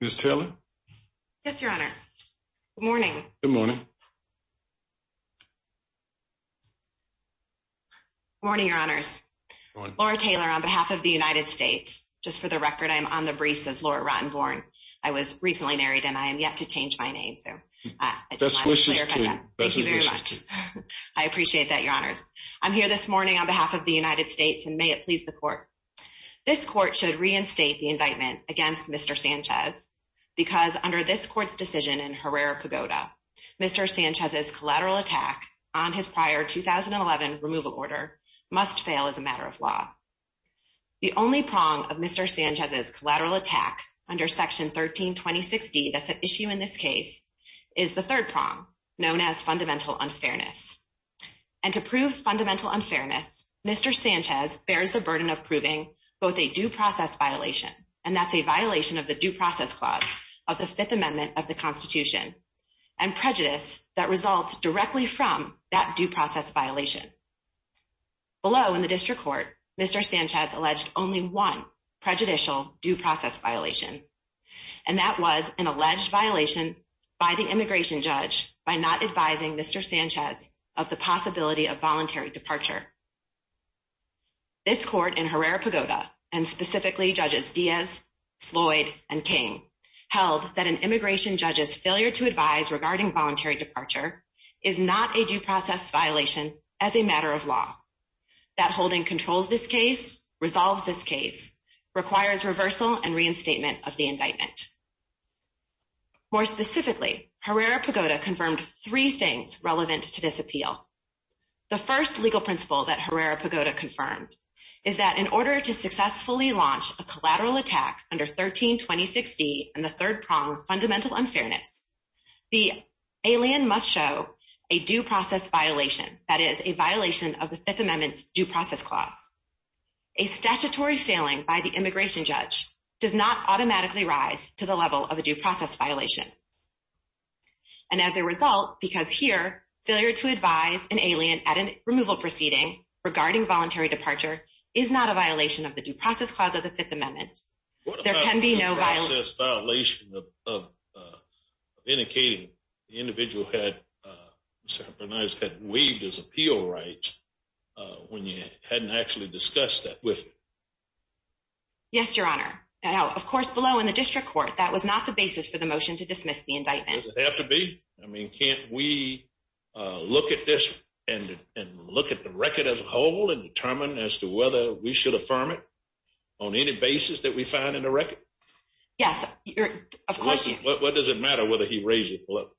Ms. Taylor? Yes, Your Honor. Good morning. Good morning. Good morning, Your Honors. Laura Taylor on behalf of the United States. Just for the record, I am on the briefs as Laura Rottenborn. I was recently married and I am yet to change my name. Best wishes to you. Thank you very much. I appreciate that, Your Honors. I'm here this morning on behalf of the United States and may it please the Court. This Court should reinstate the indictment against Mr. Sanchez because under this Court's decision in Herrera-Pagoda, Mr. Sanchez's collateral attack on his prior 2011 removal order must fail as a matter of law. The only prong of Mr. Sanchez's collateral attack under Section 13-2060 that's at issue in this case is the third prong known as fundamental unfairness. And to prove fundamental unfairness, Mr. Sanchez bears the burden of proving both a due process violation, and that's a violation of the Due Process Clause of the Fifth Amendment of the Constitution, and prejudice that results directly from that due process violation. Below in the District Court, Mr. Sanchez alleged only one prejudicial due process violation, and that was an alleged violation by the immigration judge by not advising Mr. Sanchez of the possibility of voluntary departure. This Court in Herrera-Pagoda, and specifically Judges Diaz, Floyd, and King, held that an immigration judge's failure to advise regarding voluntary departure is not a due process violation as a matter of law. That holding controls this case, resolves this case, requires reversal and reinstatement of the indictment. More specifically, Herrera-Pagoda confirmed three things relevant to this appeal. The first legal principle that Herrera-Pagoda confirmed is that in order to successfully launch a collateral attack under 13-2060 and the third prong fundamental unfairness, the alien must show a due process violation, that is, a violation of the Fifth Amendment's Due Process Clause. A statutory failing by the immigration judge does not automatically rise to the level of a due process violation. And as a result, because here, failure to advise an alien at a removal proceeding regarding voluntary departure is not a violation of the Due Process Clause of the Fifth Amendment. What about a due process violation of indicating the individual had weaved his appeal right when you hadn't actually discussed that with him? Yes, Your Honor. Now, of course, below in the District Court, that was not the basis for the motion to dismiss the indictment. Does it have to be? I mean, can't we look at this and look at the record as a whole and determine as to whether we should affirm it? On any basis that we find in the record? Yes, of course. What does it matter whether he raised it below?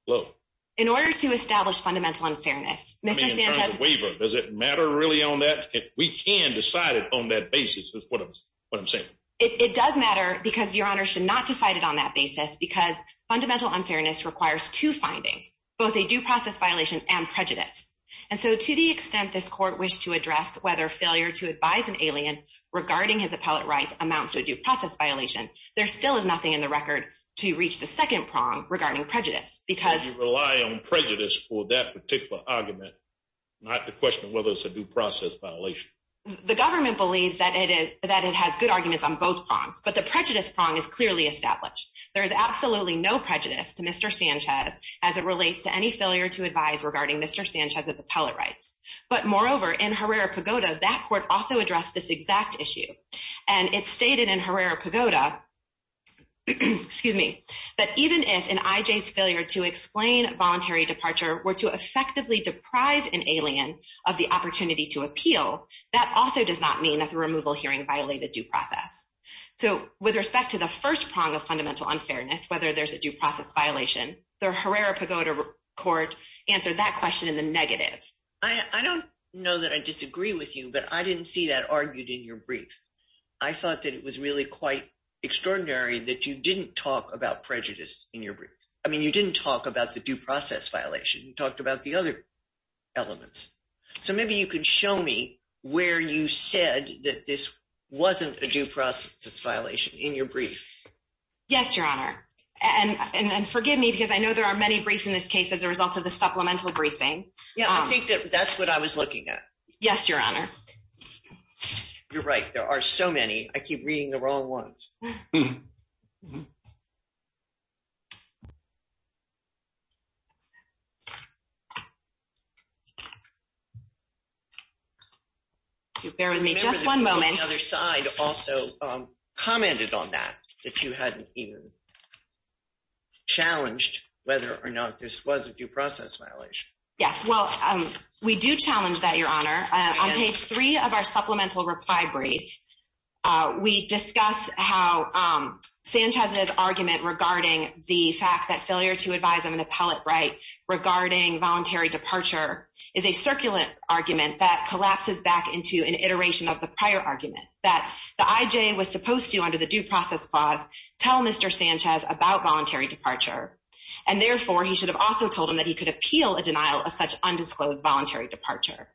In order to establish fundamental unfairness, Mr. Sanchez I mean, in terms of waiver, does it matter really on that? We can decide it on that basis is what I'm saying. It does matter because Your Honor should not decide it on that basis because fundamental unfairness requires two findings, both a due process violation and prejudice. And so to the extent this court wished to address whether failure to advise an alien regarding his appellate rights amounts to a due process violation. There still is nothing in the record to reach the second prong regarding prejudice because You rely on prejudice for that particular argument, not the question of whether it's a due process violation. The government believes that it is that it has good arguments on both prongs, but the prejudice prong is clearly established. There is absolutely no prejudice to Mr. Sanchez as it relates to any failure to advise regarding Mr. Sanchez's appellate rights. But moreover, in Herrera Pagoda, that court also addressed this exact issue. And it's stated in Herrera Pagoda, excuse me, that even if an IJ's failure to explain voluntary departure were to effectively deprive an alien of the opportunity to appeal. That also does not mean that the removal hearing violated due process. So with respect to the first prong of fundamental unfairness, whether there's a due process violation, the Herrera Pagoda court answered that question in the negative. I don't know that I disagree with you, but I didn't see that argued in your brief. I thought that it was really quite extraordinary that you didn't talk about prejudice in your brief. I mean, you didn't talk about the due process violation. You talked about the other elements. So maybe you could show me where you said that this wasn't a due process violation in your brief. Yes, Your Honor. And forgive me because I know there are many briefs in this case as a result of the supplemental briefing. Yeah, I think that that's what I was looking at. Yes, Your Honor. You're right. There are so many. I keep reading the wrong ones. Bear with me just one moment. The other side also commented on that, that you hadn't even challenged whether or not this was a due process violation. Yes. Well, we do challenge that, Your Honor. On page three of our supplemental reply brief, we discuss how Sanchez's argument regarding the fact that failure to advise on an appellate right regarding voluntary departure is a circulant argument that collapses back into an iteration of the prior argument that the IJ was supposed to, under the due process clause, tell Mr. Sanchez about voluntary departure. And therefore, he should have also told him that he could appeal a denial of such undisclosed voluntary departure.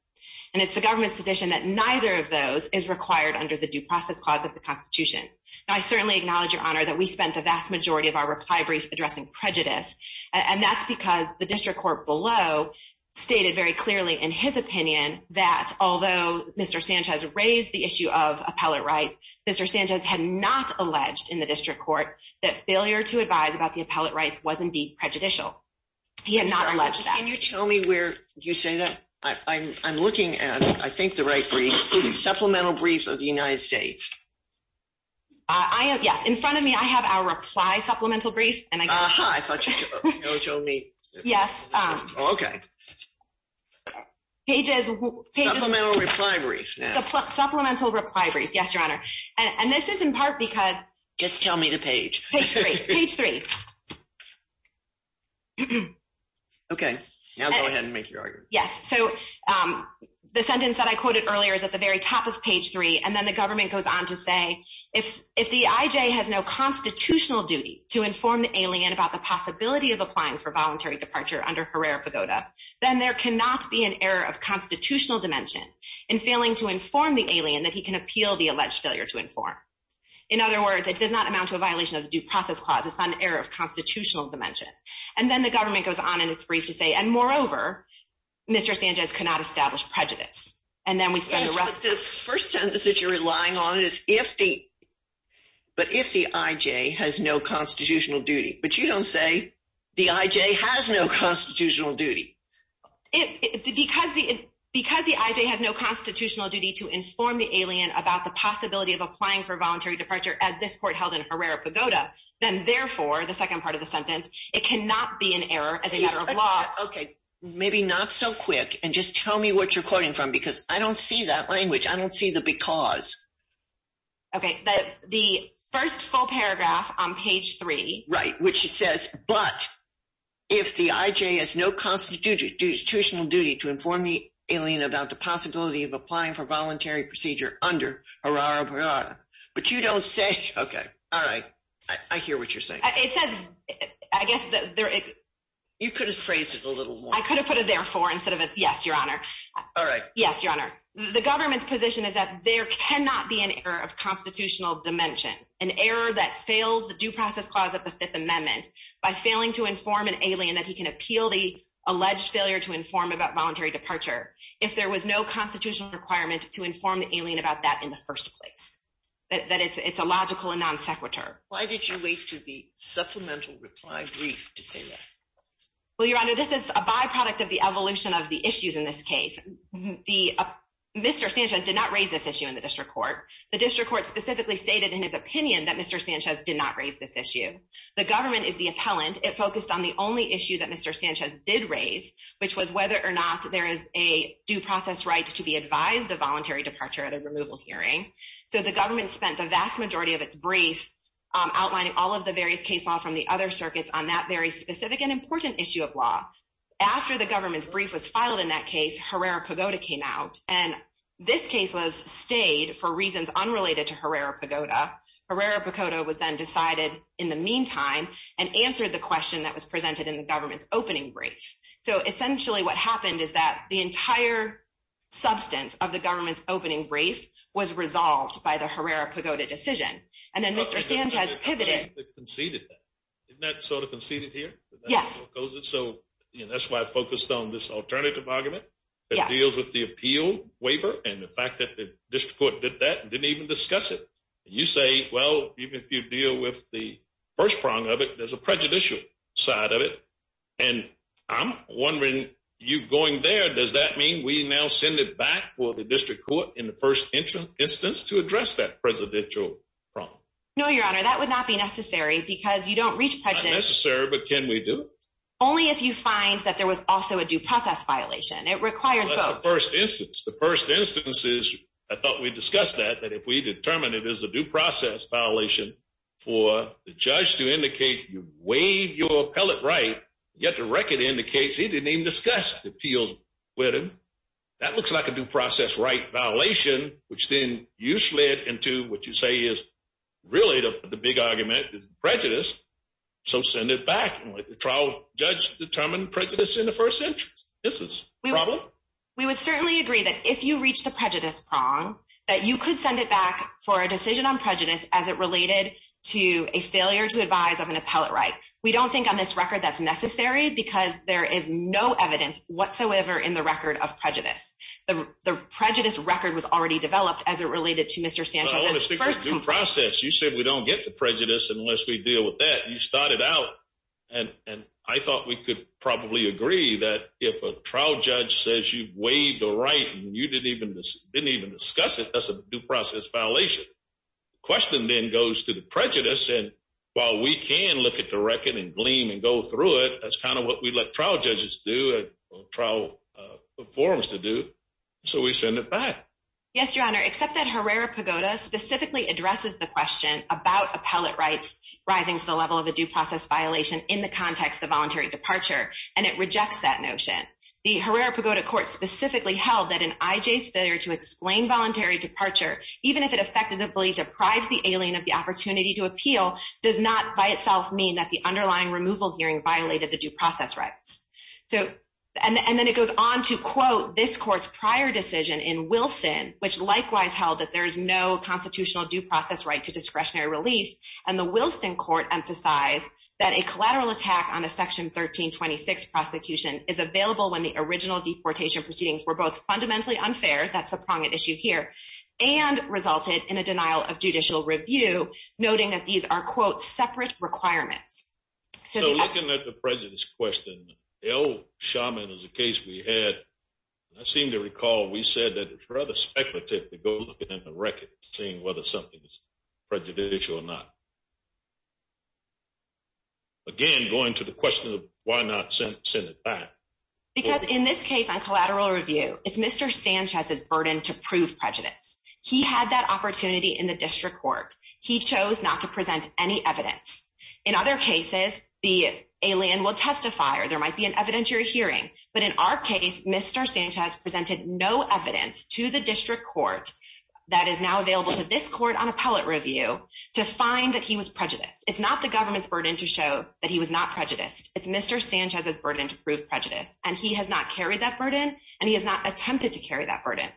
And it's the government's position that neither of those is required under the due process clause of the Constitution. I certainly acknowledge, Your Honor, that we spent the vast majority of our reply brief addressing prejudice. And that's because the district court below stated very clearly in his opinion that although Mr. Sanchez raised the issue of appellate rights, Mr. Sanchez had not alleged in the district court that failure to advise about the appellate rights was indeed prejudicial. He had not alleged that. Can you tell me where you say that? I'm looking at, I think, the right brief. Supplemental brief of the United States. Yes. In front of me, I have our reply supplemental brief. Uh-huh. I thought you told me. Yes. Okay. Supplemental reply brief. Supplemental reply brief. Yes, Your Honor. And this is in part because… Just tell me the page. Page three. Page three. Okay. Now go ahead and make your argument. Yes. So the sentence that I quoted earlier is at the very top of page three, and then the government goes on to say, if the IJ has no constitutional duty to inform the alien about the possibility of applying for voluntary departure under Herrera-Pagoda, then there cannot be an error of constitutional dimension in failing to inform the alien that he can appeal the alleged failure to inform. In other words, it does not amount to a violation of the Due Process Clause. It's an error of constitutional dimension. And then the government goes on in its brief to say, and moreover, Mr. Sanchez cannot establish prejudice. And then we spend the rest of the… Yes, but the first sentence that you're relying on is if the IJ has no constitutional duty. But you don't say the IJ has no constitutional duty. Because the IJ has no constitutional duty to inform the alien about the possibility of applying for voluntary departure as this court held in Herrera-Pagoda, then therefore, the second part of the sentence, it cannot be an error as a matter of law. Okay, maybe not so quick, and just tell me what you're quoting from, because I don't see that language. I don't see the because. Okay, the first full paragraph on page three. Right, which says, but if the IJ has no constitutional duty to inform the alien about the possibility of applying for voluntary procedure under Herrera-Pagoda, but you don't say, okay, all right, I hear what you're saying. It says, I guess… You could have phrased it a little more. I could have put a therefore instead of a yes, Your Honor. All right. Yes, Your Honor. The government's position is that there cannot be an error of constitutional dimension, an error that fails the due process clause of the Fifth Amendment by failing to inform an alien that he can appeal the alleged failure to inform about voluntary departure if there was no constitutional requirement to inform the alien about that in the first place, that it's a logical and non sequitur. Why did you wait to the supplemental reply brief to say that? Well, Your Honor, this is a byproduct of the evolution of the issues in this case. Mr. Sanchez did not raise this issue in the district court. The district court specifically stated in his opinion that Mr. Sanchez did not raise this issue. The government is the appellant. It focused on the only issue that Mr. Sanchez did raise, which was whether or not there is a due process right to be advised of voluntary departure at a removal hearing. So the government spent the vast majority of its brief outlining all of the various case law from the other circuits on that very specific and important issue of law. After the government's brief was filed in that case, Herrera-Pagoda came out, and this case was stayed for reasons unrelated to Herrera-Pagoda. Herrera-Pagoda was then decided in the meantime and answered the question that was presented in the government's opening brief. So essentially what happened is that the entire substance of the government's opening brief was resolved by the Herrera-Pagoda decision. And then Mr. Sanchez pivoted. Didn't that sort of conceded here? Yes. So that's why I focused on this alternative argument that deals with the appeal waiver and the fact that the district court did that and didn't even discuss it. You say, well, even if you deal with the first prong of it, there's a prejudicial side of it. And I'm wondering, you going there, does that mean we now send it back for the district court in the first instance to address that presidential prong? No, Your Honor, that would not be necessary because you don't reach prejudice. Not necessary, but can we do it? Only if you find that there was also a due process violation. It requires both. That's the first instance. I thought we discussed that, that if we determine it is a due process violation for the judge to indicate you waive your appellate right, yet the record indicates he didn't even discuss the appeals with him. That looks like a due process right violation, which then you slid into what you say is really the big argument is prejudice. So send it back. And let the trial judge determine prejudice in the first instance. Is this a problem? We would certainly agree that if you reach the prejudice prong, that you could send it back for a decision on prejudice as it related to a failure to advise of an appellate right. We don't think on this record that's necessary because there is no evidence whatsoever in the record of prejudice. The prejudice record was already developed as it related to Mr. Sanchez's first complaint. No, I want to stick to due process. You said we don't get to prejudice unless we deal with that. And I thought we could probably agree that if a trial judge says you waive the right and you didn't even discuss it, that's a due process violation. The question then goes to the prejudice. And while we can look at the record and gleam and go through it, that's kind of what we let trial judges do, trial forums to do. So we send it back. Yes, Your Honor, except that Herrera-Pagoda specifically addresses the question about appellate rights rising to the level of a due process violation in the context of voluntary departure, and it rejects that notion. The Herrera-Pagoda court specifically held that an IJ's failure to explain voluntary departure, even if it effectively deprives the alien of the opportunity to appeal, does not by itself mean that the underlying removal hearing violated the due process rights. And then it goes on to quote this court's prior decision in Wilson, which likewise held that there is no constitutional due process right to discretionary relief. And the Wilson court emphasized that a collateral attack on a Section 1326 prosecution is available when the original deportation proceedings were both fundamentally unfair, that's the prominent issue here, and resulted in a denial of judicial review, noting that these are, quote, separate requirements. So looking at the prejudice question, El Shaman is a case we had, and I seem to recall we said that it's rather speculative to go look at the record, seeing whether something is prejudicial or not. Again, going to the question of why not send it back. Because in this case on collateral review, it's Mr. Sanchez's burden to prove prejudice. He had that opportunity in the district court. He chose not to present any evidence. In other cases, the alien will testify or there might be an evidentiary hearing. But in our case, Mr. Sanchez presented no evidence to the district court that is now available to this court on appellate review to find that he was prejudiced. It's not the government's burden to show that he was not prejudiced. It's Mr. Sanchez's burden to prove prejudice. And he has not carried that burden, and he has not attempted to carry that burden.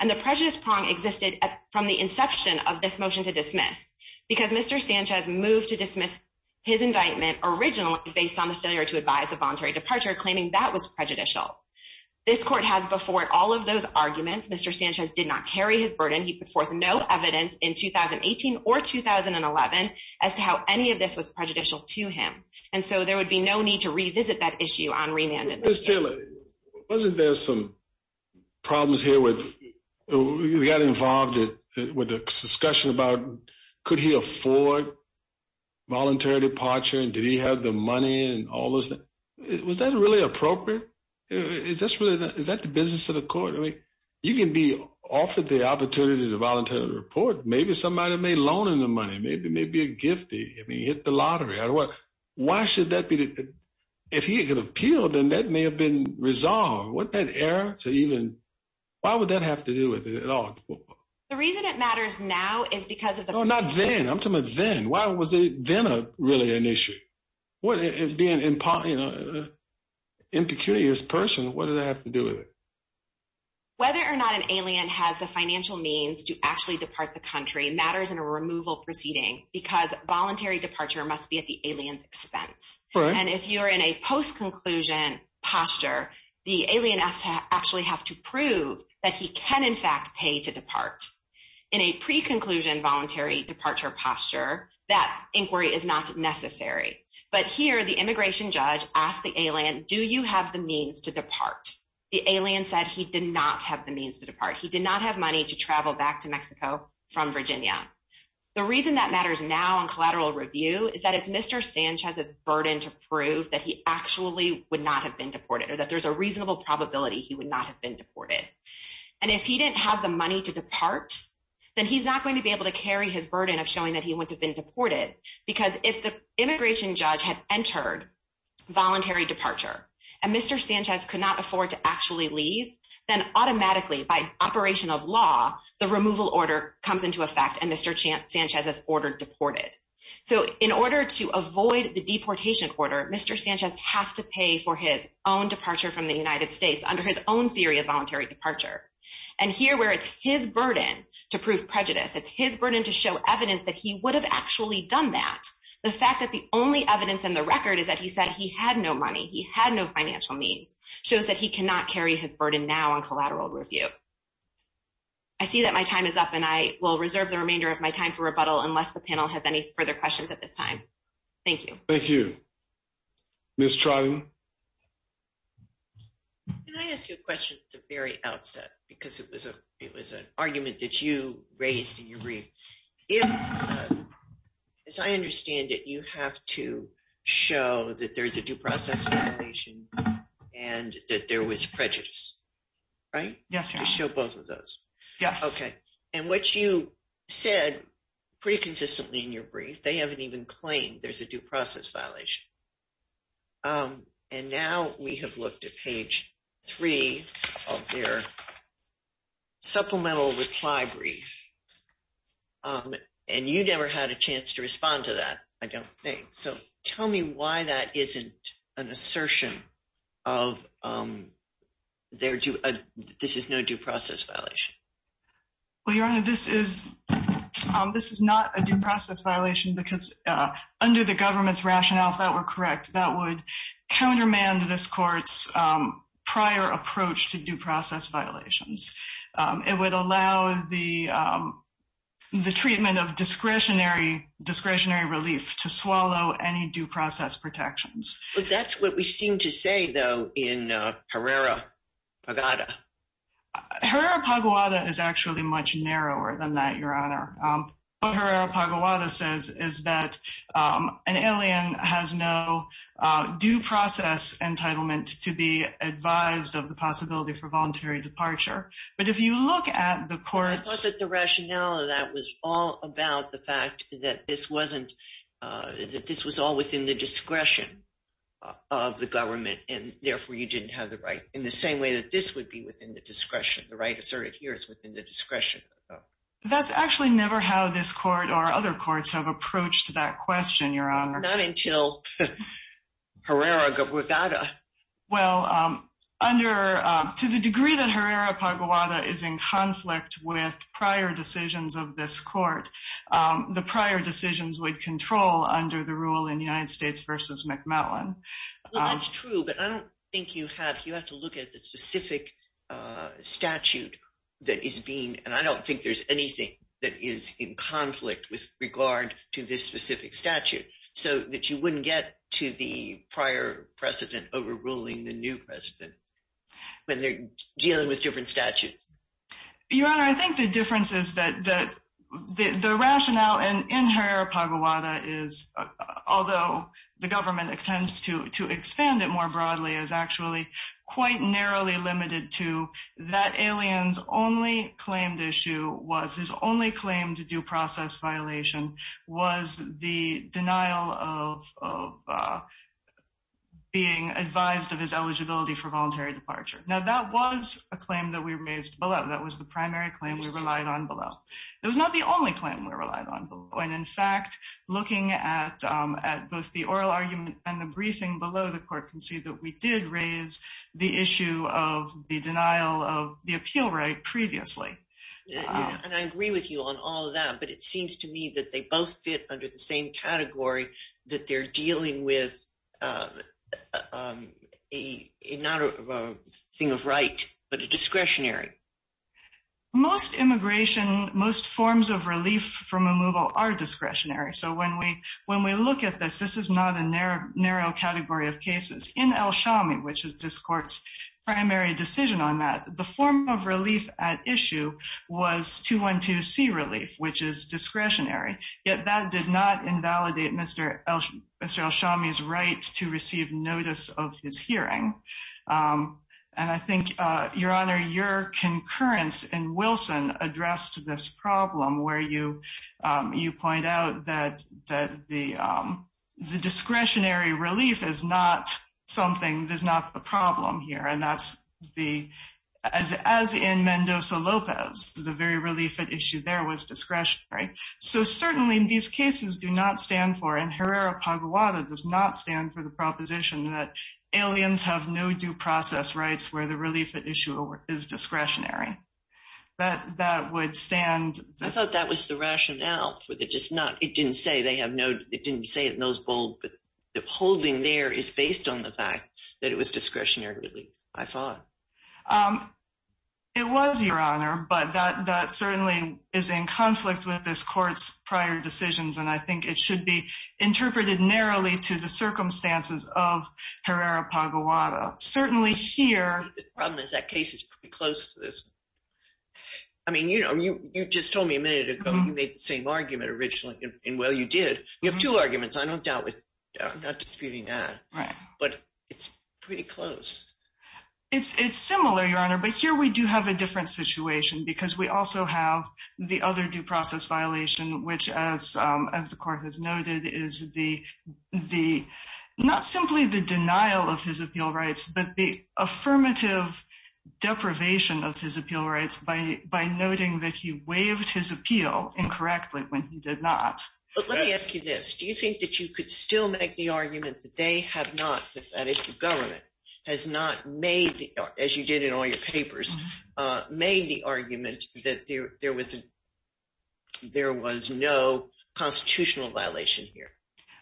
And the prejudice prong existed from the inception of this motion to dismiss. Because Mr. Sanchez moved to dismiss his indictment originally based on the failure to advise a voluntary departure, claiming that was prejudicial. This court has before it all of those arguments. Mr. Sanchez did not carry his burden. He put forth no evidence in 2018 or 2011 as to how any of this was prejudicial to him. And so there would be no need to revisit that issue on remand. Mr. Taylor, wasn't there some problems here with the guy involved with the discussion about could he afford voluntary departure? And did he have the money and all those things? Was that really appropriate? Is that the business of the court? I mean, you can be offered the opportunity to voluntarily report. Maybe somebody made a loan in the money. Maybe a gift. I mean, he hit the lottery. Why should that be? If he could appeal, then that may have been resolved. Wasn't that error? Why would that have to do with it at all? The reason it matters now is because of the process. No, not then. I'm talking about then. Why was it then really an issue? Being an impecunious person, what did that have to do with it? Whether or not an alien has the financial means to actually depart the country matters in a removal proceeding because voluntary departure must be at the alien's expense. And if you're in a post-conclusion posture, the alien has to actually have to prove that he can, in fact, pay to depart. In a pre-conclusion voluntary departure posture, that inquiry is not necessary. But here, the immigration judge asked the alien, do you have the means to depart? The alien said he did not have the means to depart. He did not have money to travel back to Mexico from Virginia. The reason that matters now in collateral review is that it's Mr. Sanchez's burden to prove that he actually would not have been deported or that there's a reasonable probability he would not have been deported. And if he didn't have the money to depart, then he's not going to be able to carry his burden of showing that he wouldn't have been deported. Because if the immigration judge had entered voluntary departure and Mr. Sanchez could not afford to actually leave, then automatically by operation of law, the removal order comes into effect and Mr. Sanchez is ordered deported. So in order to avoid the deportation order, Mr. Sanchez has to pay for his own departure from the United States under his own theory of voluntary departure. And here where it's his burden to prove prejudice, it's his burden to show evidence that he would have actually done that, the fact that the only evidence in the record is that he said he had no money, he had no financial means, shows that he cannot carry his burden now on collateral review. I see that my time is up and I will reserve the remainder of my time for rebuttal unless the panel has any further questions at this time. Thank you. Thank you. Ms. Trotting? Can I ask you a question at the very outset because it was an argument that you raised in your brief? If, as I understand it, you have to show that there's a due process violation and that there was prejudice, right? Yes. You show both of those. Yes. Okay. And what you said pretty consistently in your brief, they haven't even claimed there's a due process violation. And now we have looked at page three of their supplemental reply brief, and you never had a chance to respond to that, I don't think. So tell me why that isn't an assertion of this is no due process violation. Well, Your Honor, this is not a due process violation because under the government's rationale, if that were correct, that would countermand this court's prior approach to due process violations. It would allow the treatment of discretionary relief to swallow any due process protections. But that's what we seem to say, though, in Herrera Pagada. Herrera Pagada is actually much narrower than that, Your Honor. What Herrera Pagada says is that an alien has no due process entitlement to be advised of the possibility for voluntary departure. But if you look at the court's… The right asserted here is within the discretion. That's actually never how this court or other courts have approached that question, Your Honor. Not until Herrera Pagada. Well, to the degree that Herrera Pagada is in conflict with prior decisions of this court, the prior decisions would control under the rule in United States v. McMellon. Well, that's true, but I don't think you have… You have to look at the specific statute that is being… And I don't think there's anything that is in conflict with regard to this specific statute so that you wouldn't get to the prior precedent overruling the new precedent when they're dealing with different statutes. Your Honor, I think the difference is that the rationale in Herrera Pagada is, although the government intends to expand it more broadly, is actually quite narrowly limited to that alien's only claimed issue was… His only claim to due process violation was the denial of being advised of his eligibility for voluntary departure. Now, that was a claim that we raised below. That was the primary claim we relied on below. It was not the only claim we relied on below. And, in fact, looking at both the oral argument and the briefing below, the court can see that we did raise the issue of the denial of the appeal right previously. And I agree with you on all of that, but it seems to me that they both fit under the same category, that they're dealing with not a thing of right, but a discretionary. Most immigration, most forms of relief from removal are discretionary. So when we look at this, this is not a narrow category of cases. In El Shami, which is this court's primary decision on that, the form of relief at issue was 212C relief, which is discretionary. Yet that did not invalidate Mr. El Shami's right to receive notice of his hearing. And I think, Your Honor, your concurrence in Wilson addressed this problem where you point out that the discretionary relief is not something, is not the problem here. And that's the, as in Mendoza-Lopez, the very relief at issue there was discretionary. So certainly these cases do not stand for, and Herrera-Paguada does not stand for the proposition that aliens have no due process rights where the relief at issue is discretionary. That would stand. I thought that was the rationale for the just not, it didn't say they have no, it didn't say it in those bold, but the holding there is based on the fact that it was discretionary relief, I thought. It was, Your Honor, but that certainly is in conflict with this court's prior decisions. And I think it should be interpreted narrowly to the circumstances of Herrera-Paguada. Certainly here, the problem is that case is pretty close to this. I mean, you know, you just told me a minute ago you made the same argument originally. And well, you did. You have two arguments. I don't doubt it. I'm not disputing that. Right. But it's pretty close. It's similar, Your Honor, but here we do have a different situation because we also have the other due process violation, which, as the court has noted, is not simply the denial of his appeal rights, but the affirmative deprivation of his appeal rights by noting that he waived his appeal incorrectly when he did not. But let me ask you this. Do you think that you could still make the argument that they have not, that is, the government has not made, as you did in all your papers, made the argument that there was no constitutional violation here?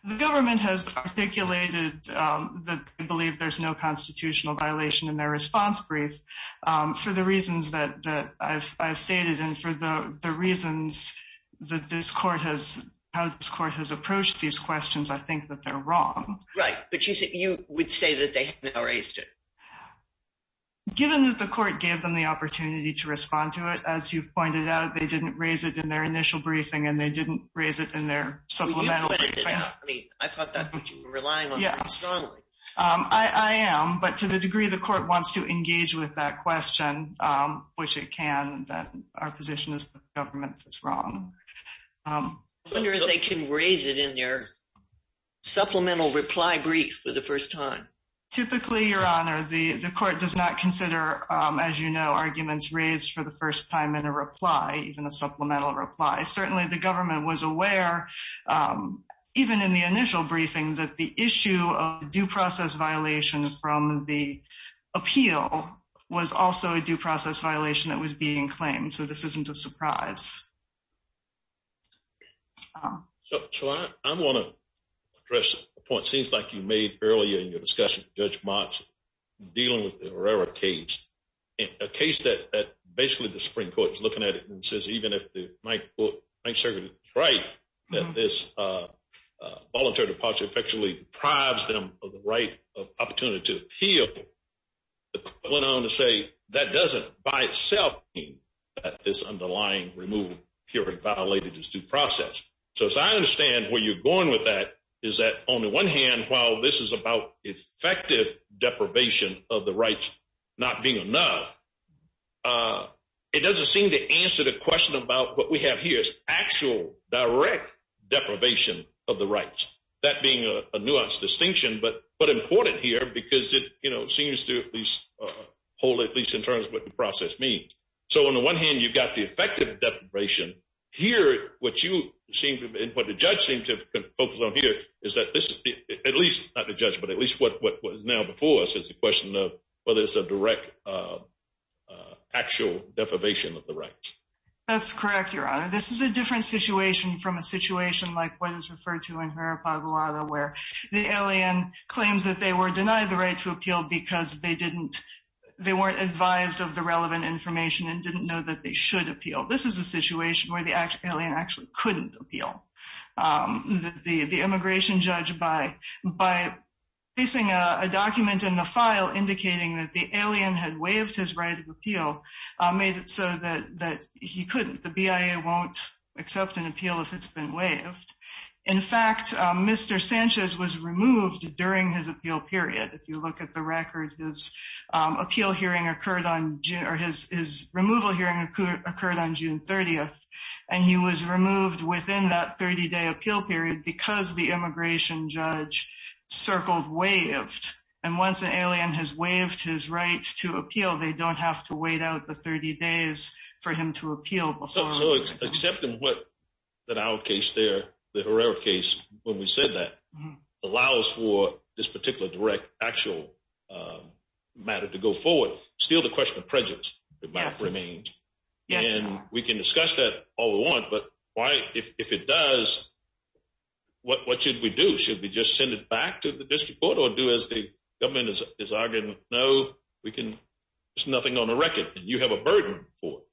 The government has articulated that they believe there's no constitutional violation in their response brief for the reasons that I've stated and for the reasons that this court has, how this court has approached these questions, I think that they're wrong. Right. But you would say that they have not raised it? I mean, I thought that you were relying on me strongly. I am. But to the degree the court wants to engage with that question, which it can, then our position is the government is wrong. I wonder if they can raise it in their supplemental reply brief for the first time. Typically, Your Honor, the court does not consider, as you know, arguments raised for the first time in a reply, even a supplemental reply. Certainly, the government was aware, even in the initial briefing, that the issue of due process violation from the appeal was also a due process violation that was being claimed. So this isn't a surprise. So I want to address a point. It seems like you made earlier in your discussion with Judge Motz dealing with the Herrera case, a case that basically the Supreme Court is looking at it and says even if the Ninth Circuit is right that this voluntary departure effectually deprives them of the right of opportunity to appeal, the court went on to say that doesn't by itself mean that this underlying removal period violated this due process. So as I understand where you're going with that, is that on the one hand, while this is about effective deprivation of the rights not being enough, it doesn't seem to answer the question about what we have here is actual direct deprivation of the rights. That being a nuanced distinction, but important here because it seems to hold at least in terms of what the process means. So on the one hand, you've got the effective deprivation. Here, what the judge seemed to focus on here is that this is at least, not the judge, but at least what was now before us is the question of whether it's a direct actual deprivation of the rights. That's correct, Your Honor. This is a different situation from a situation like what is referred to in Herrera-Paglada where the alien claims that they were denied the right to appeal because they weren't advised of the relevant information and didn't know that they should appeal. This is a situation where the alien actually couldn't appeal. The immigration judge, by placing a document in the file indicating that the alien had waived his right of appeal, made it so that he couldn't. The BIA won't accept an appeal if it's been waived. In fact, Mr. Sanchez was removed during his appeal period. If you look at the records, his appeal hearing occurred on June, or his removal hearing occurred on June 30th, and he was removed within that 30-day appeal period because the immigration judge circled waived. And once an alien has waived his right to appeal, they don't have to wait out the 30 days for him to appeal. So accepting that our case there, the Herrera case, when we said that, allows for this particular direct actual matter to go forward, still the question of prejudice might remain. And we can discuss that all we want, but if it does, what should we do? Should we just send it back to the district court or do as the government is arguing, no, there's nothing on the record and you have a burden for it?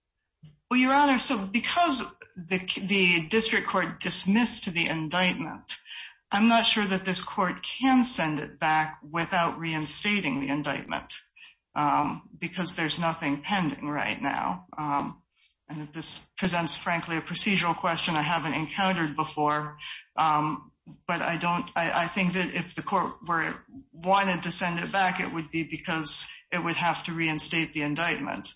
Well, Your Honor, so because the district court dismissed the indictment, I'm not sure that this court can send it back without reinstating the indictment, because there's nothing pending right now. And this presents, frankly, a procedural question I haven't encountered before, but I think that if the court wanted to send it back, it would be because it would have to reinstate the indictment.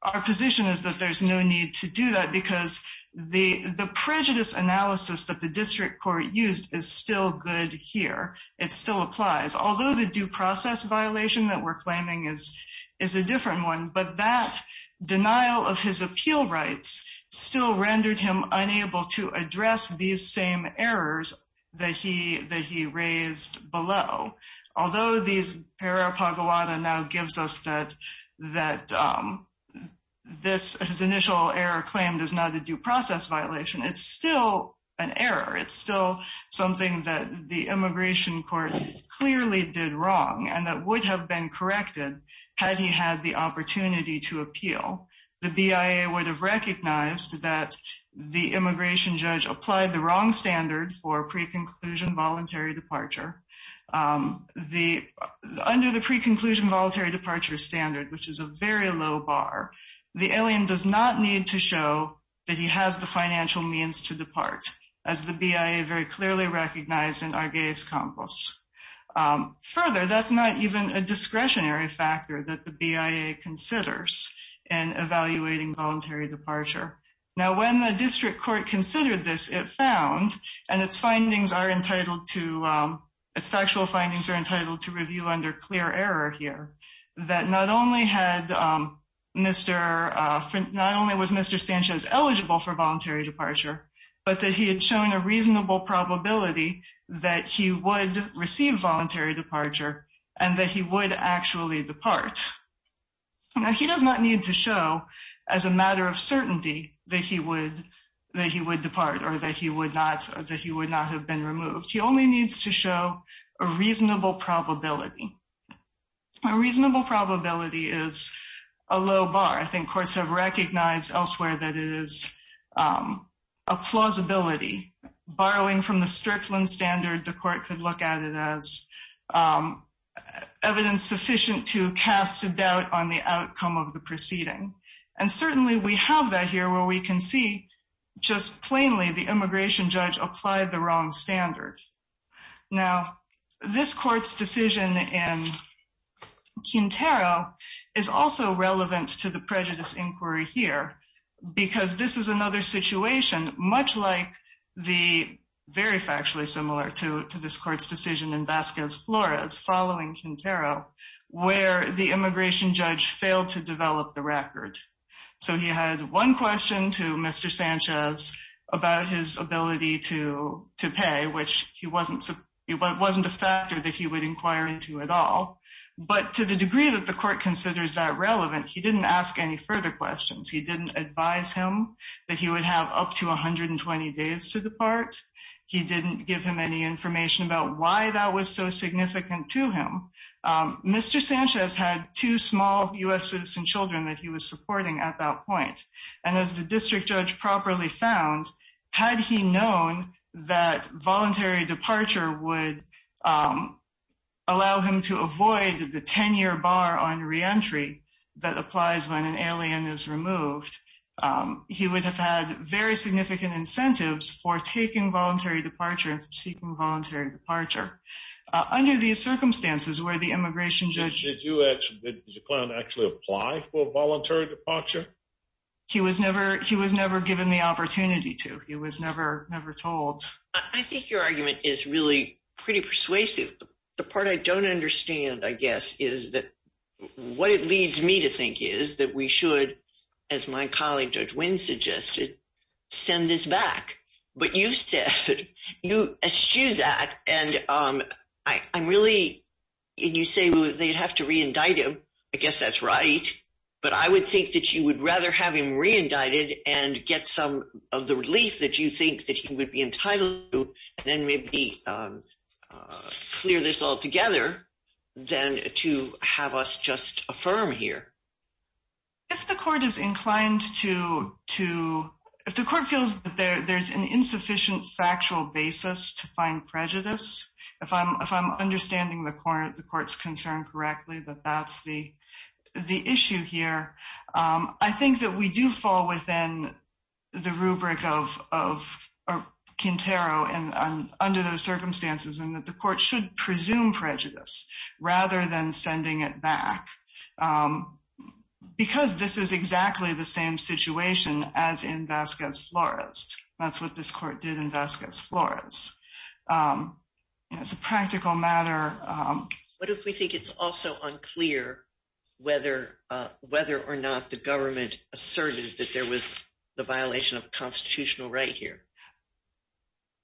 Our position is that there's no need to do that because the prejudice analysis that the district court used is still good here. It still applies, although the due process violation that we're claiming is a different one, but that denial of his appeal rights still rendered him unable to address these same errors that he raised below. Although these error paguada now gives us that his initial error claim is not a due process violation, it's still an error. It's still something that the immigration court clearly did wrong and that would have been corrected had he had the opportunity to appeal. The BIA would have recognized that the immigration judge applied the wrong standard for pre-conclusion voluntary departure. Under the pre-conclusion voluntary departure standard, which is a very low bar, the alien does not need to show that he has the financial means to depart, as the BIA very clearly recognized in Arguelles Compos. Further, that's not even a discretionary factor that the BIA considers in evaluating voluntary departure. When the district court considered this, it found, and its factual findings are entitled to review under clear error here, that not only was Mr. Sanchez eligible for voluntary departure, but that he had shown a reasonable probability that he would receive voluntary departure and that he would actually depart. He does not need to show as a matter of certainty that he would depart or that he would not have been removed. He only needs to show a reasonable probability. A reasonable probability is a low bar. I think courts have recognized elsewhere that it is a plausibility. Borrowing from the Strickland standard, the court could look at it as evidence sufficient to cast a doubt on the outcome of the proceeding. And certainly we have that here where we can see just plainly the immigration judge applied the wrong standard. Now, this court's decision in Quintero is also relevant to the prejudice inquiry here, because this is another situation much like the very factually similar to this court's decision in Vasquez Flores following Quintero, where the immigration judge failed to develop the record. So he had one question to Mr. Sanchez about his ability to pay, which wasn't a factor that he would inquire into at all. But to the degree that the court considers that relevant, he didn't ask any further questions. He didn't advise him that he would have up to 120 days to depart. He didn't give him any information about why that was so significant to him. Mr. Sanchez had two small U.S. citizen children that he was supporting at that point. And as the district judge properly found, had he known that voluntary departure would allow him to avoid the 10-year bar on reentry that applies when an alien is removed, he would have had very significant incentives for taking voluntary departure and seeking voluntary departure. Under these circumstances where the immigration judge... Did you actually, did the client actually apply for voluntary departure? He was never given the opportunity to. He was never told. I think your argument is really pretty persuasive. The part I don't understand, I guess, is that what it leads me to think is that we should, as my colleague Judge Wynn suggested, send this back. But you said, you eschew that. And I'm really... And you say they'd have to re-indict him. I guess that's right. But I would think that you would rather have him re-indicted and get some of the relief that you think that he would be entitled to, and then maybe clear this all together than to have us just affirm here. If the court is inclined to... If the court feels that there's an insufficient factual basis to find prejudice, if I'm understanding the court's concern correctly that that's the issue here, I think that we do fall within the rubric of Quintero under those circumstances, and that the court should presume prejudice rather than sending it back, because this is exactly the same situation as in Vasquez Flores. That's what this court did in Vasquez Flores. It's a practical matter. What if we think it's also unclear whether or not the government asserted that there was the violation of constitutional right here?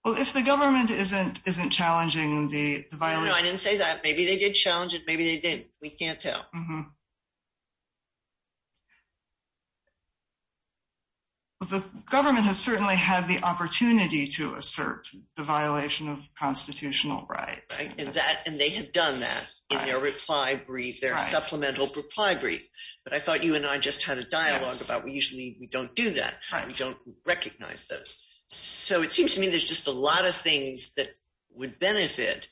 Well, if the government isn't challenging the violation... No, no, I didn't say that. Maybe they did challenge it. Maybe they didn't. We can't tell. The government has certainly had the opportunity to assert the violation of constitutional rights. Right. And they have done that in their reply brief, their supplemental reply brief. But I thought you and I just had a dialogue about we usually don't do that. We don't recognize those. So it seems to me there's just a lot of things that would benefit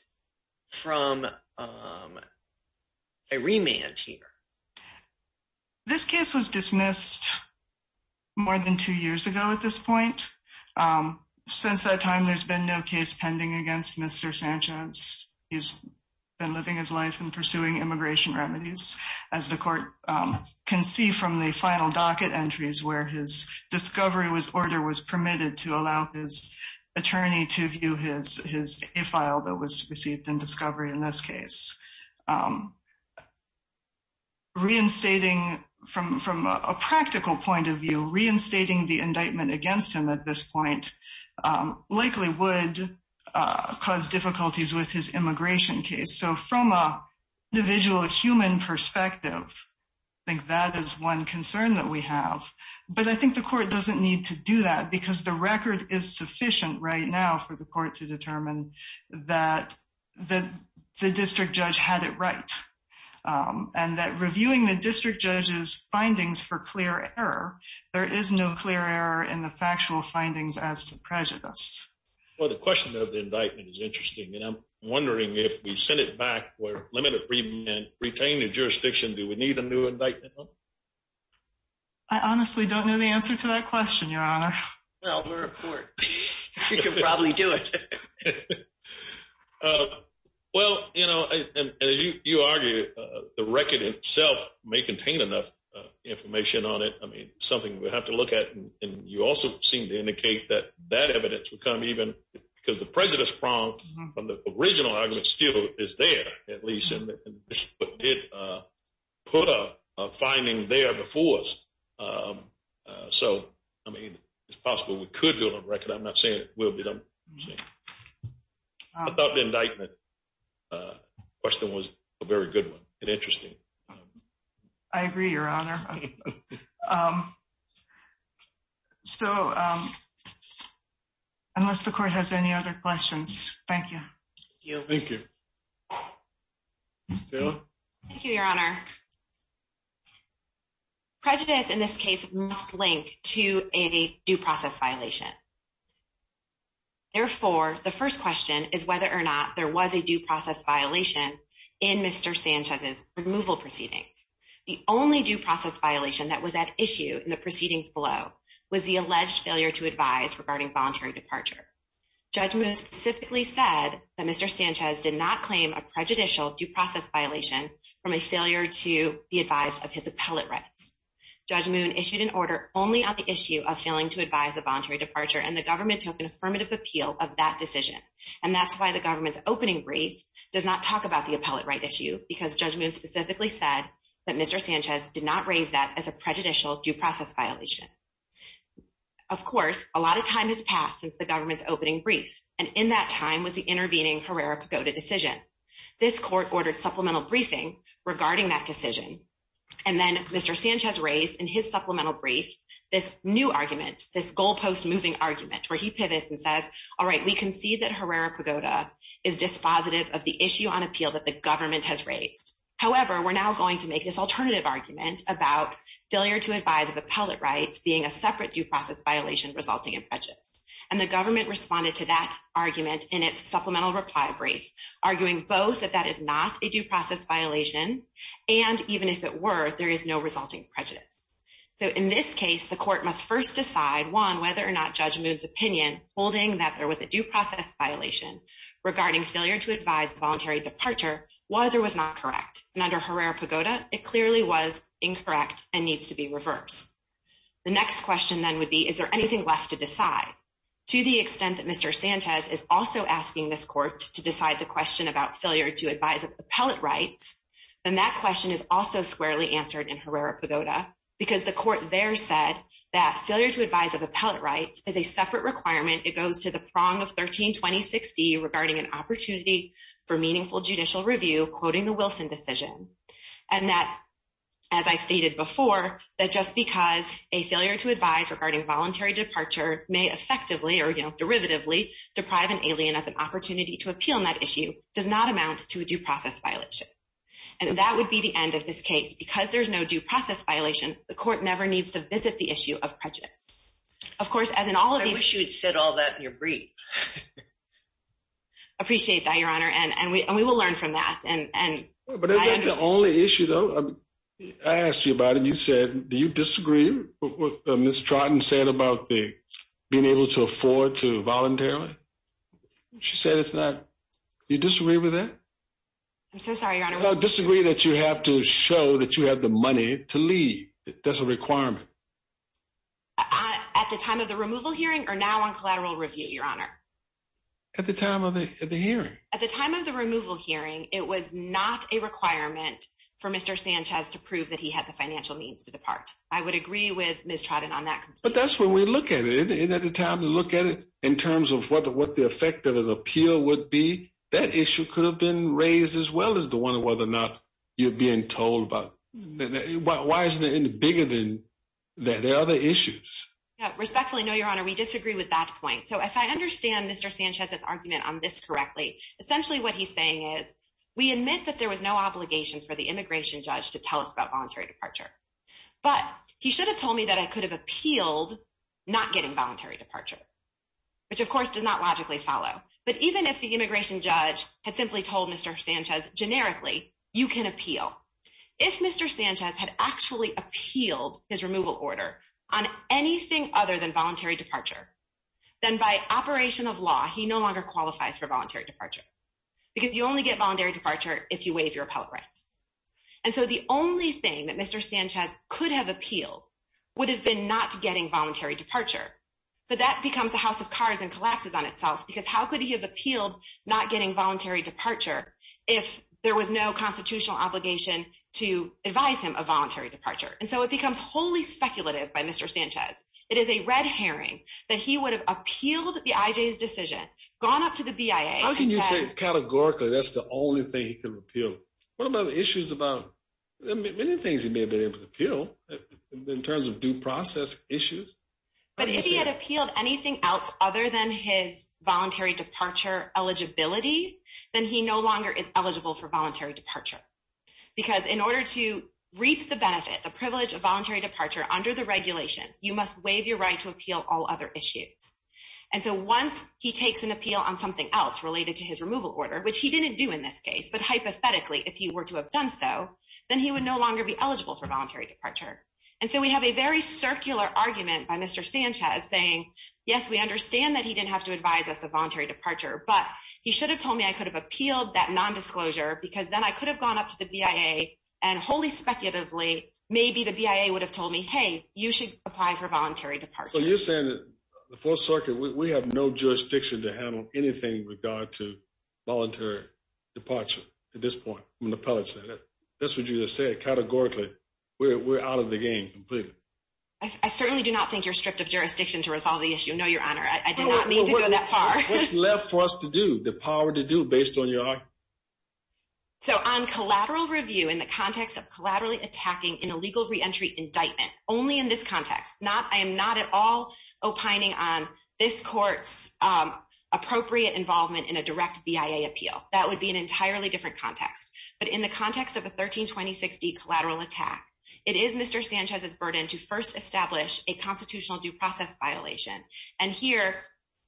from a remand here. This case was dismissed more than two years ago at this point. Since that time, there's been no case pending against Mr. Sanchez. He's been living his life and pursuing immigration remedies, as the court can see from the final docket entries where his discovery order was permitted to allow his attorney to view his file that was received in discovery in this case. Reinstating, from a practical point of view, reinstating the indictment against him at this point likely would cause difficulties with his immigration case. So from an individual, a human perspective, I think that is one concern that we have. But I think the court doesn't need to do that because the record is sufficient right now for the court to determine that the district judge had it right. And that reviewing the district judge's findings for clear error, there is no clear error in the factual findings as to prejudice. Well, the question of the indictment is interesting. And I'm wondering if we send it back with a limited remand, retain the jurisdiction, do we need a new indictment? I honestly don't know the answer to that question, Your Honor. Well, we're a court. We could probably do it. Well, you know, as you argue, the record itself may contain enough information on it. I mean, something we have to look at. And you also seem to indicate that that evidence would come even because the prejudice from the original argument still is there, at least, and did put a finding there before us. So, I mean, it's possible we could build a record. I'm not saying it will be done. I thought the indictment question was a very good one and interesting. I agree, Your Honor. So, unless the court has any other questions, thank you. Thank you. Ms. Taylor. Thank you, Your Honor. Prejudice in this case must link to a due process violation. Therefore, the first question is whether or not there was a due process violation in Mr. Sanchez's removal proceedings. The only due process violation that was at issue in the proceedings below was the alleged failure to advise regarding voluntary departure. Judge Moon specifically said that Mr. Sanchez did not claim a prejudicial due process violation from a failure to be advised of his appellate rights. Judge Moon issued an order only on the issue of failing to advise a voluntary departure, and the government took an affirmative appeal of that decision. And that's why the government's opening brief does not talk about the appellate right issue because Judge Moon specifically said that Mr. Sanchez did not raise that as a prejudicial due process violation. Of course, a lot of time has passed since the government's opening brief, and in that time was the intervening Herrera-Pagoda decision. This court ordered supplemental briefing regarding that decision. And then Mr. Sanchez raised in his supplemental brief this new argument, this goalpost moving argument, where he pivots and says, All right, we concede that Herrera-Pagoda is dispositive of the issue on appeal that the government has raised. However, we're now going to make this alternative argument about failure to advise of appellate rights being a separate due process violation resulting in prejudice. And the government responded to that argument in its supplemental reply brief, arguing both that that is not a due process violation, and even if it were, there is no resulting prejudice. So in this case, the court must first decide, one, whether or not Judge Moon's opinion holding that there was a due process violation regarding failure to advise voluntary departure was or was not correct. And under Herrera-Pagoda, it clearly was incorrect and needs to be reversed. The next question then would be, is there anything left to decide? To the extent that Mr. Sanchez is also asking this court to decide the question about failure to advise of appellate rights, then that question is also squarely answered in Herrera-Pagoda, because the court there said that failure to advise of appellate rights is a separate requirement. It goes to the prong of 13-2060 regarding an opportunity for meaningful judicial review, quoting the Wilson decision. And that, as I stated before, that just because a failure to advise regarding voluntary departure may effectively or derivatively deprive an alien of an opportunity to appeal on that issue does not amount to a due process violation. And that would be the end of this case. Because there's no due process violation, the court never needs to visit the issue of prejudice. Of course, as in all of these— I wish you had said all that in your brief. Appreciate that, Your Honor, and we will learn from that. But is that the only issue, though? I asked you about it, and you said, do you disagree with what Ms. Trotten said about being able to afford to voluntarily? She said it's not—you disagree with that? I'm so sorry, Your Honor. Disagree that you have to show that you have the money to leave. That's a requirement. At the time of the removal hearing or now on collateral review, Your Honor? At the time of the hearing. At the time of the removal hearing, it was not a requirement for Mr. Sanchez to prove that he had the financial means to depart. I would agree with Ms. Trotten on that. But that's when we look at it. Isn't that the time to look at it in terms of what the effect of an appeal would be? That issue could have been raised as well as the one of whether or not you're being told about. Why isn't it any bigger than that? There are other issues. Respectfully, no, Your Honor, we disagree with that point. So if I understand Mr. Sanchez's argument on this correctly, essentially what he's saying is we admit that there was no obligation for the immigration judge to tell us about voluntary departure. But he should have told me that I could have appealed not getting voluntary departure, which, of course, does not logically follow. But even if the immigration judge had simply told Mr. Sanchez generically, you can appeal. If Mr. Sanchez had actually appealed his removal order on anything other than voluntary departure, then by operation of law, he no longer qualifies for voluntary departure because you only get voluntary departure if you waive your appellate rights. And so the only thing that Mr. Sanchez could have appealed would have been not getting voluntary departure. But that becomes a house of cards and collapses on itself because how could he have appealed not getting voluntary departure if there was no constitutional obligation to advise him of voluntary departure? And so it becomes wholly speculative by Mr. Sanchez. It is a red herring that he would have appealed the IJ's decision, gone up to the BIA. How can you say categorically that's the only thing he could have appealed? What about the issues about many things he may have been able to appeal in terms of due process issues? But if he had appealed anything else other than his voluntary departure eligibility, then he no longer is eligible for voluntary departure. Because in order to reap the benefit, the privilege of voluntary departure under the regulations, you must waive your right to appeal all other issues. And so once he takes an appeal on something else related to his removal order, which he didn't do in this case, but hypothetically, if he were to have done so, then he would no longer be eligible for voluntary departure. And so we have a very circular argument by Mr. Sanchez saying, yes, we understand that he didn't have to advise us of voluntary departure. But he should have told me I could have appealed that nondisclosure because then I could have gone up to the BIA and wholly speculatively, maybe the BIA would have told me, hey, you should apply for voluntary departure. So you're saying that the 4th Circuit, we have no jurisdiction to handle anything with regard to voluntary departure at this point from the Appellate Center. That's what you just said. Categorically, we're out of the game completely. I certainly do not think you're stripped of jurisdiction to resolve the issue. No, Your Honor, I do not mean to go that far. What's left for us to do, the power to do based on your argument? So on collateral review in the context of collaterally attacking an illegal reentry indictment, only in this context, I am not at all opining on this court's appropriate involvement in a direct BIA appeal. That would be an entirely different context. But in the context of a 1326D collateral attack, it is Mr. Sanchez's burden to first establish a constitutional due process violation. And here,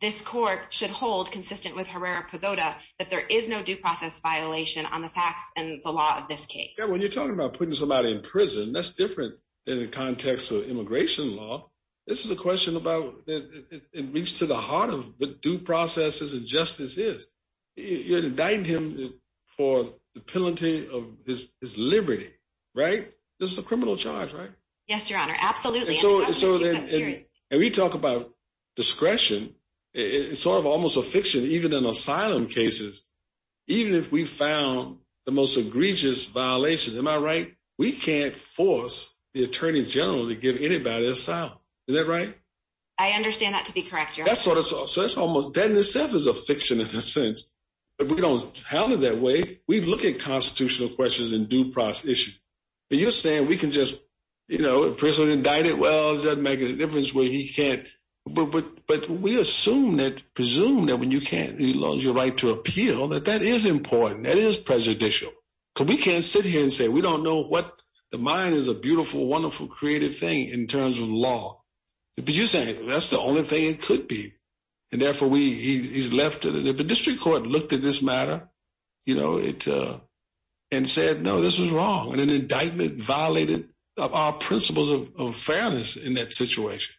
this court should hold, consistent with Herrera-Pagoda, that there is no due process violation on the facts and the law of this case. When you're talking about putting somebody in prison, that's different in the context of immigration law. This is a question about it reached to the heart of what due processes and justice is. You're indicting him for the penalty of his liberty, right? This is a criminal charge, right? Yes, Your Honor. Absolutely. And we talk about discretion. It's sort of almost a fiction, even in asylum cases. Even if we found the most egregious violation, am I right? We can't force the attorney general to give anybody asylum. Is that right? I understand that to be correct, Your Honor. So that in itself is a fiction in a sense. If we don't have it that way, we look at constitutional questions and due process issues. You're saying we can just, you know, prison indicted? Well, it doesn't make a difference where he can't. But we assume that, presume that when you can't, you lose your right to appeal, that that is important. That is prejudicial. So we can't sit here and say we don't know what, the mind is a beautiful, wonderful, creative thing in terms of law. But you're saying that's the only thing it could be. And therefore, he's left it. If the district court looked at this matter, you know, and said, no, this is wrong, and an indictment violated our principles of fairness in that situation.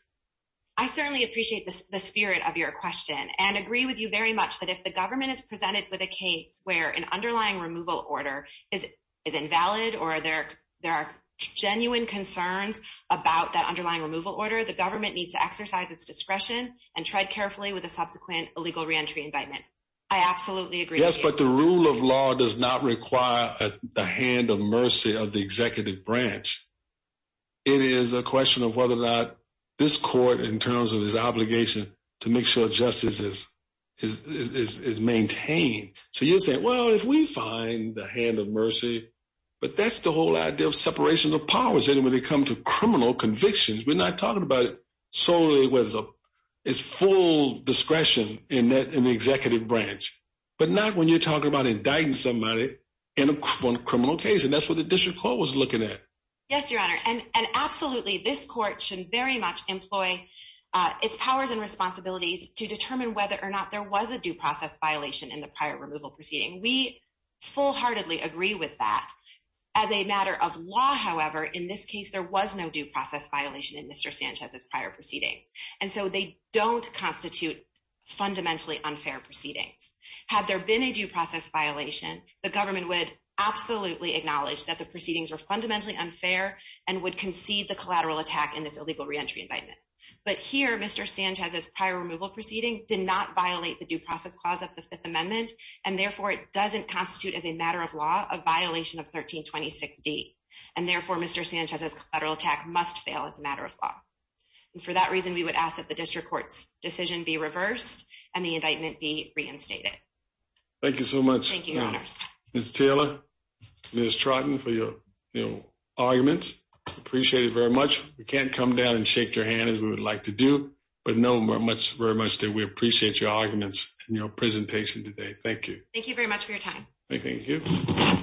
I certainly appreciate the spirit of your question and agree with you very much that if the government is presented with a case where an underlying removal order is invalid or there are genuine concerns about that underlying removal order, the government needs to exercise its discretion and tread carefully with a subsequent illegal reentry indictment. I absolutely agree. Yes, but the rule of law does not require the hand of mercy of the executive branch. It is a question of whether or not this court, in terms of his obligation to make sure justice is maintained. So you're saying, well, if we find the hand of mercy, but that's the whole idea of separation of powers. And when it comes to criminal convictions, we're not talking about solely with his full discretion in the executive branch, but not when you're talking about indicting somebody in a criminal case. And that's what the district court was looking at. Yes, Your Honor. And absolutely, this court should very much employ its powers and responsibilities to determine whether or not there was a due process violation in the prior removal proceeding. We fullheartedly agree with that. As a matter of law, however, in this case, there was no due process violation in Mr. Sanchez's prior proceedings. And so they don't constitute fundamentally unfair proceedings. Had there been a due process violation, the government would absolutely acknowledge that the proceedings were fundamentally unfair and would concede the collateral attack in this illegal reentry indictment. But here, Mr. Sanchez's prior removal proceeding did not violate the due process clause of the Fifth Amendment, and therefore, it doesn't constitute as a matter of law a violation of 1326D. And therefore, Mr. Sanchez's collateral attack must fail as a matter of law. And for that reason, we would ask that the district court's decision be reversed and the indictment be reinstated. Thank you so much. Thank you, Your Honors. Ms. Taylor, Ms. Trotten, for your arguments. Appreciate it very much. We can't come down and shake your hand as we would like to do, but know very much that we appreciate your arguments and your presentation today. Thank you. Thank you very much for your time. Thank you.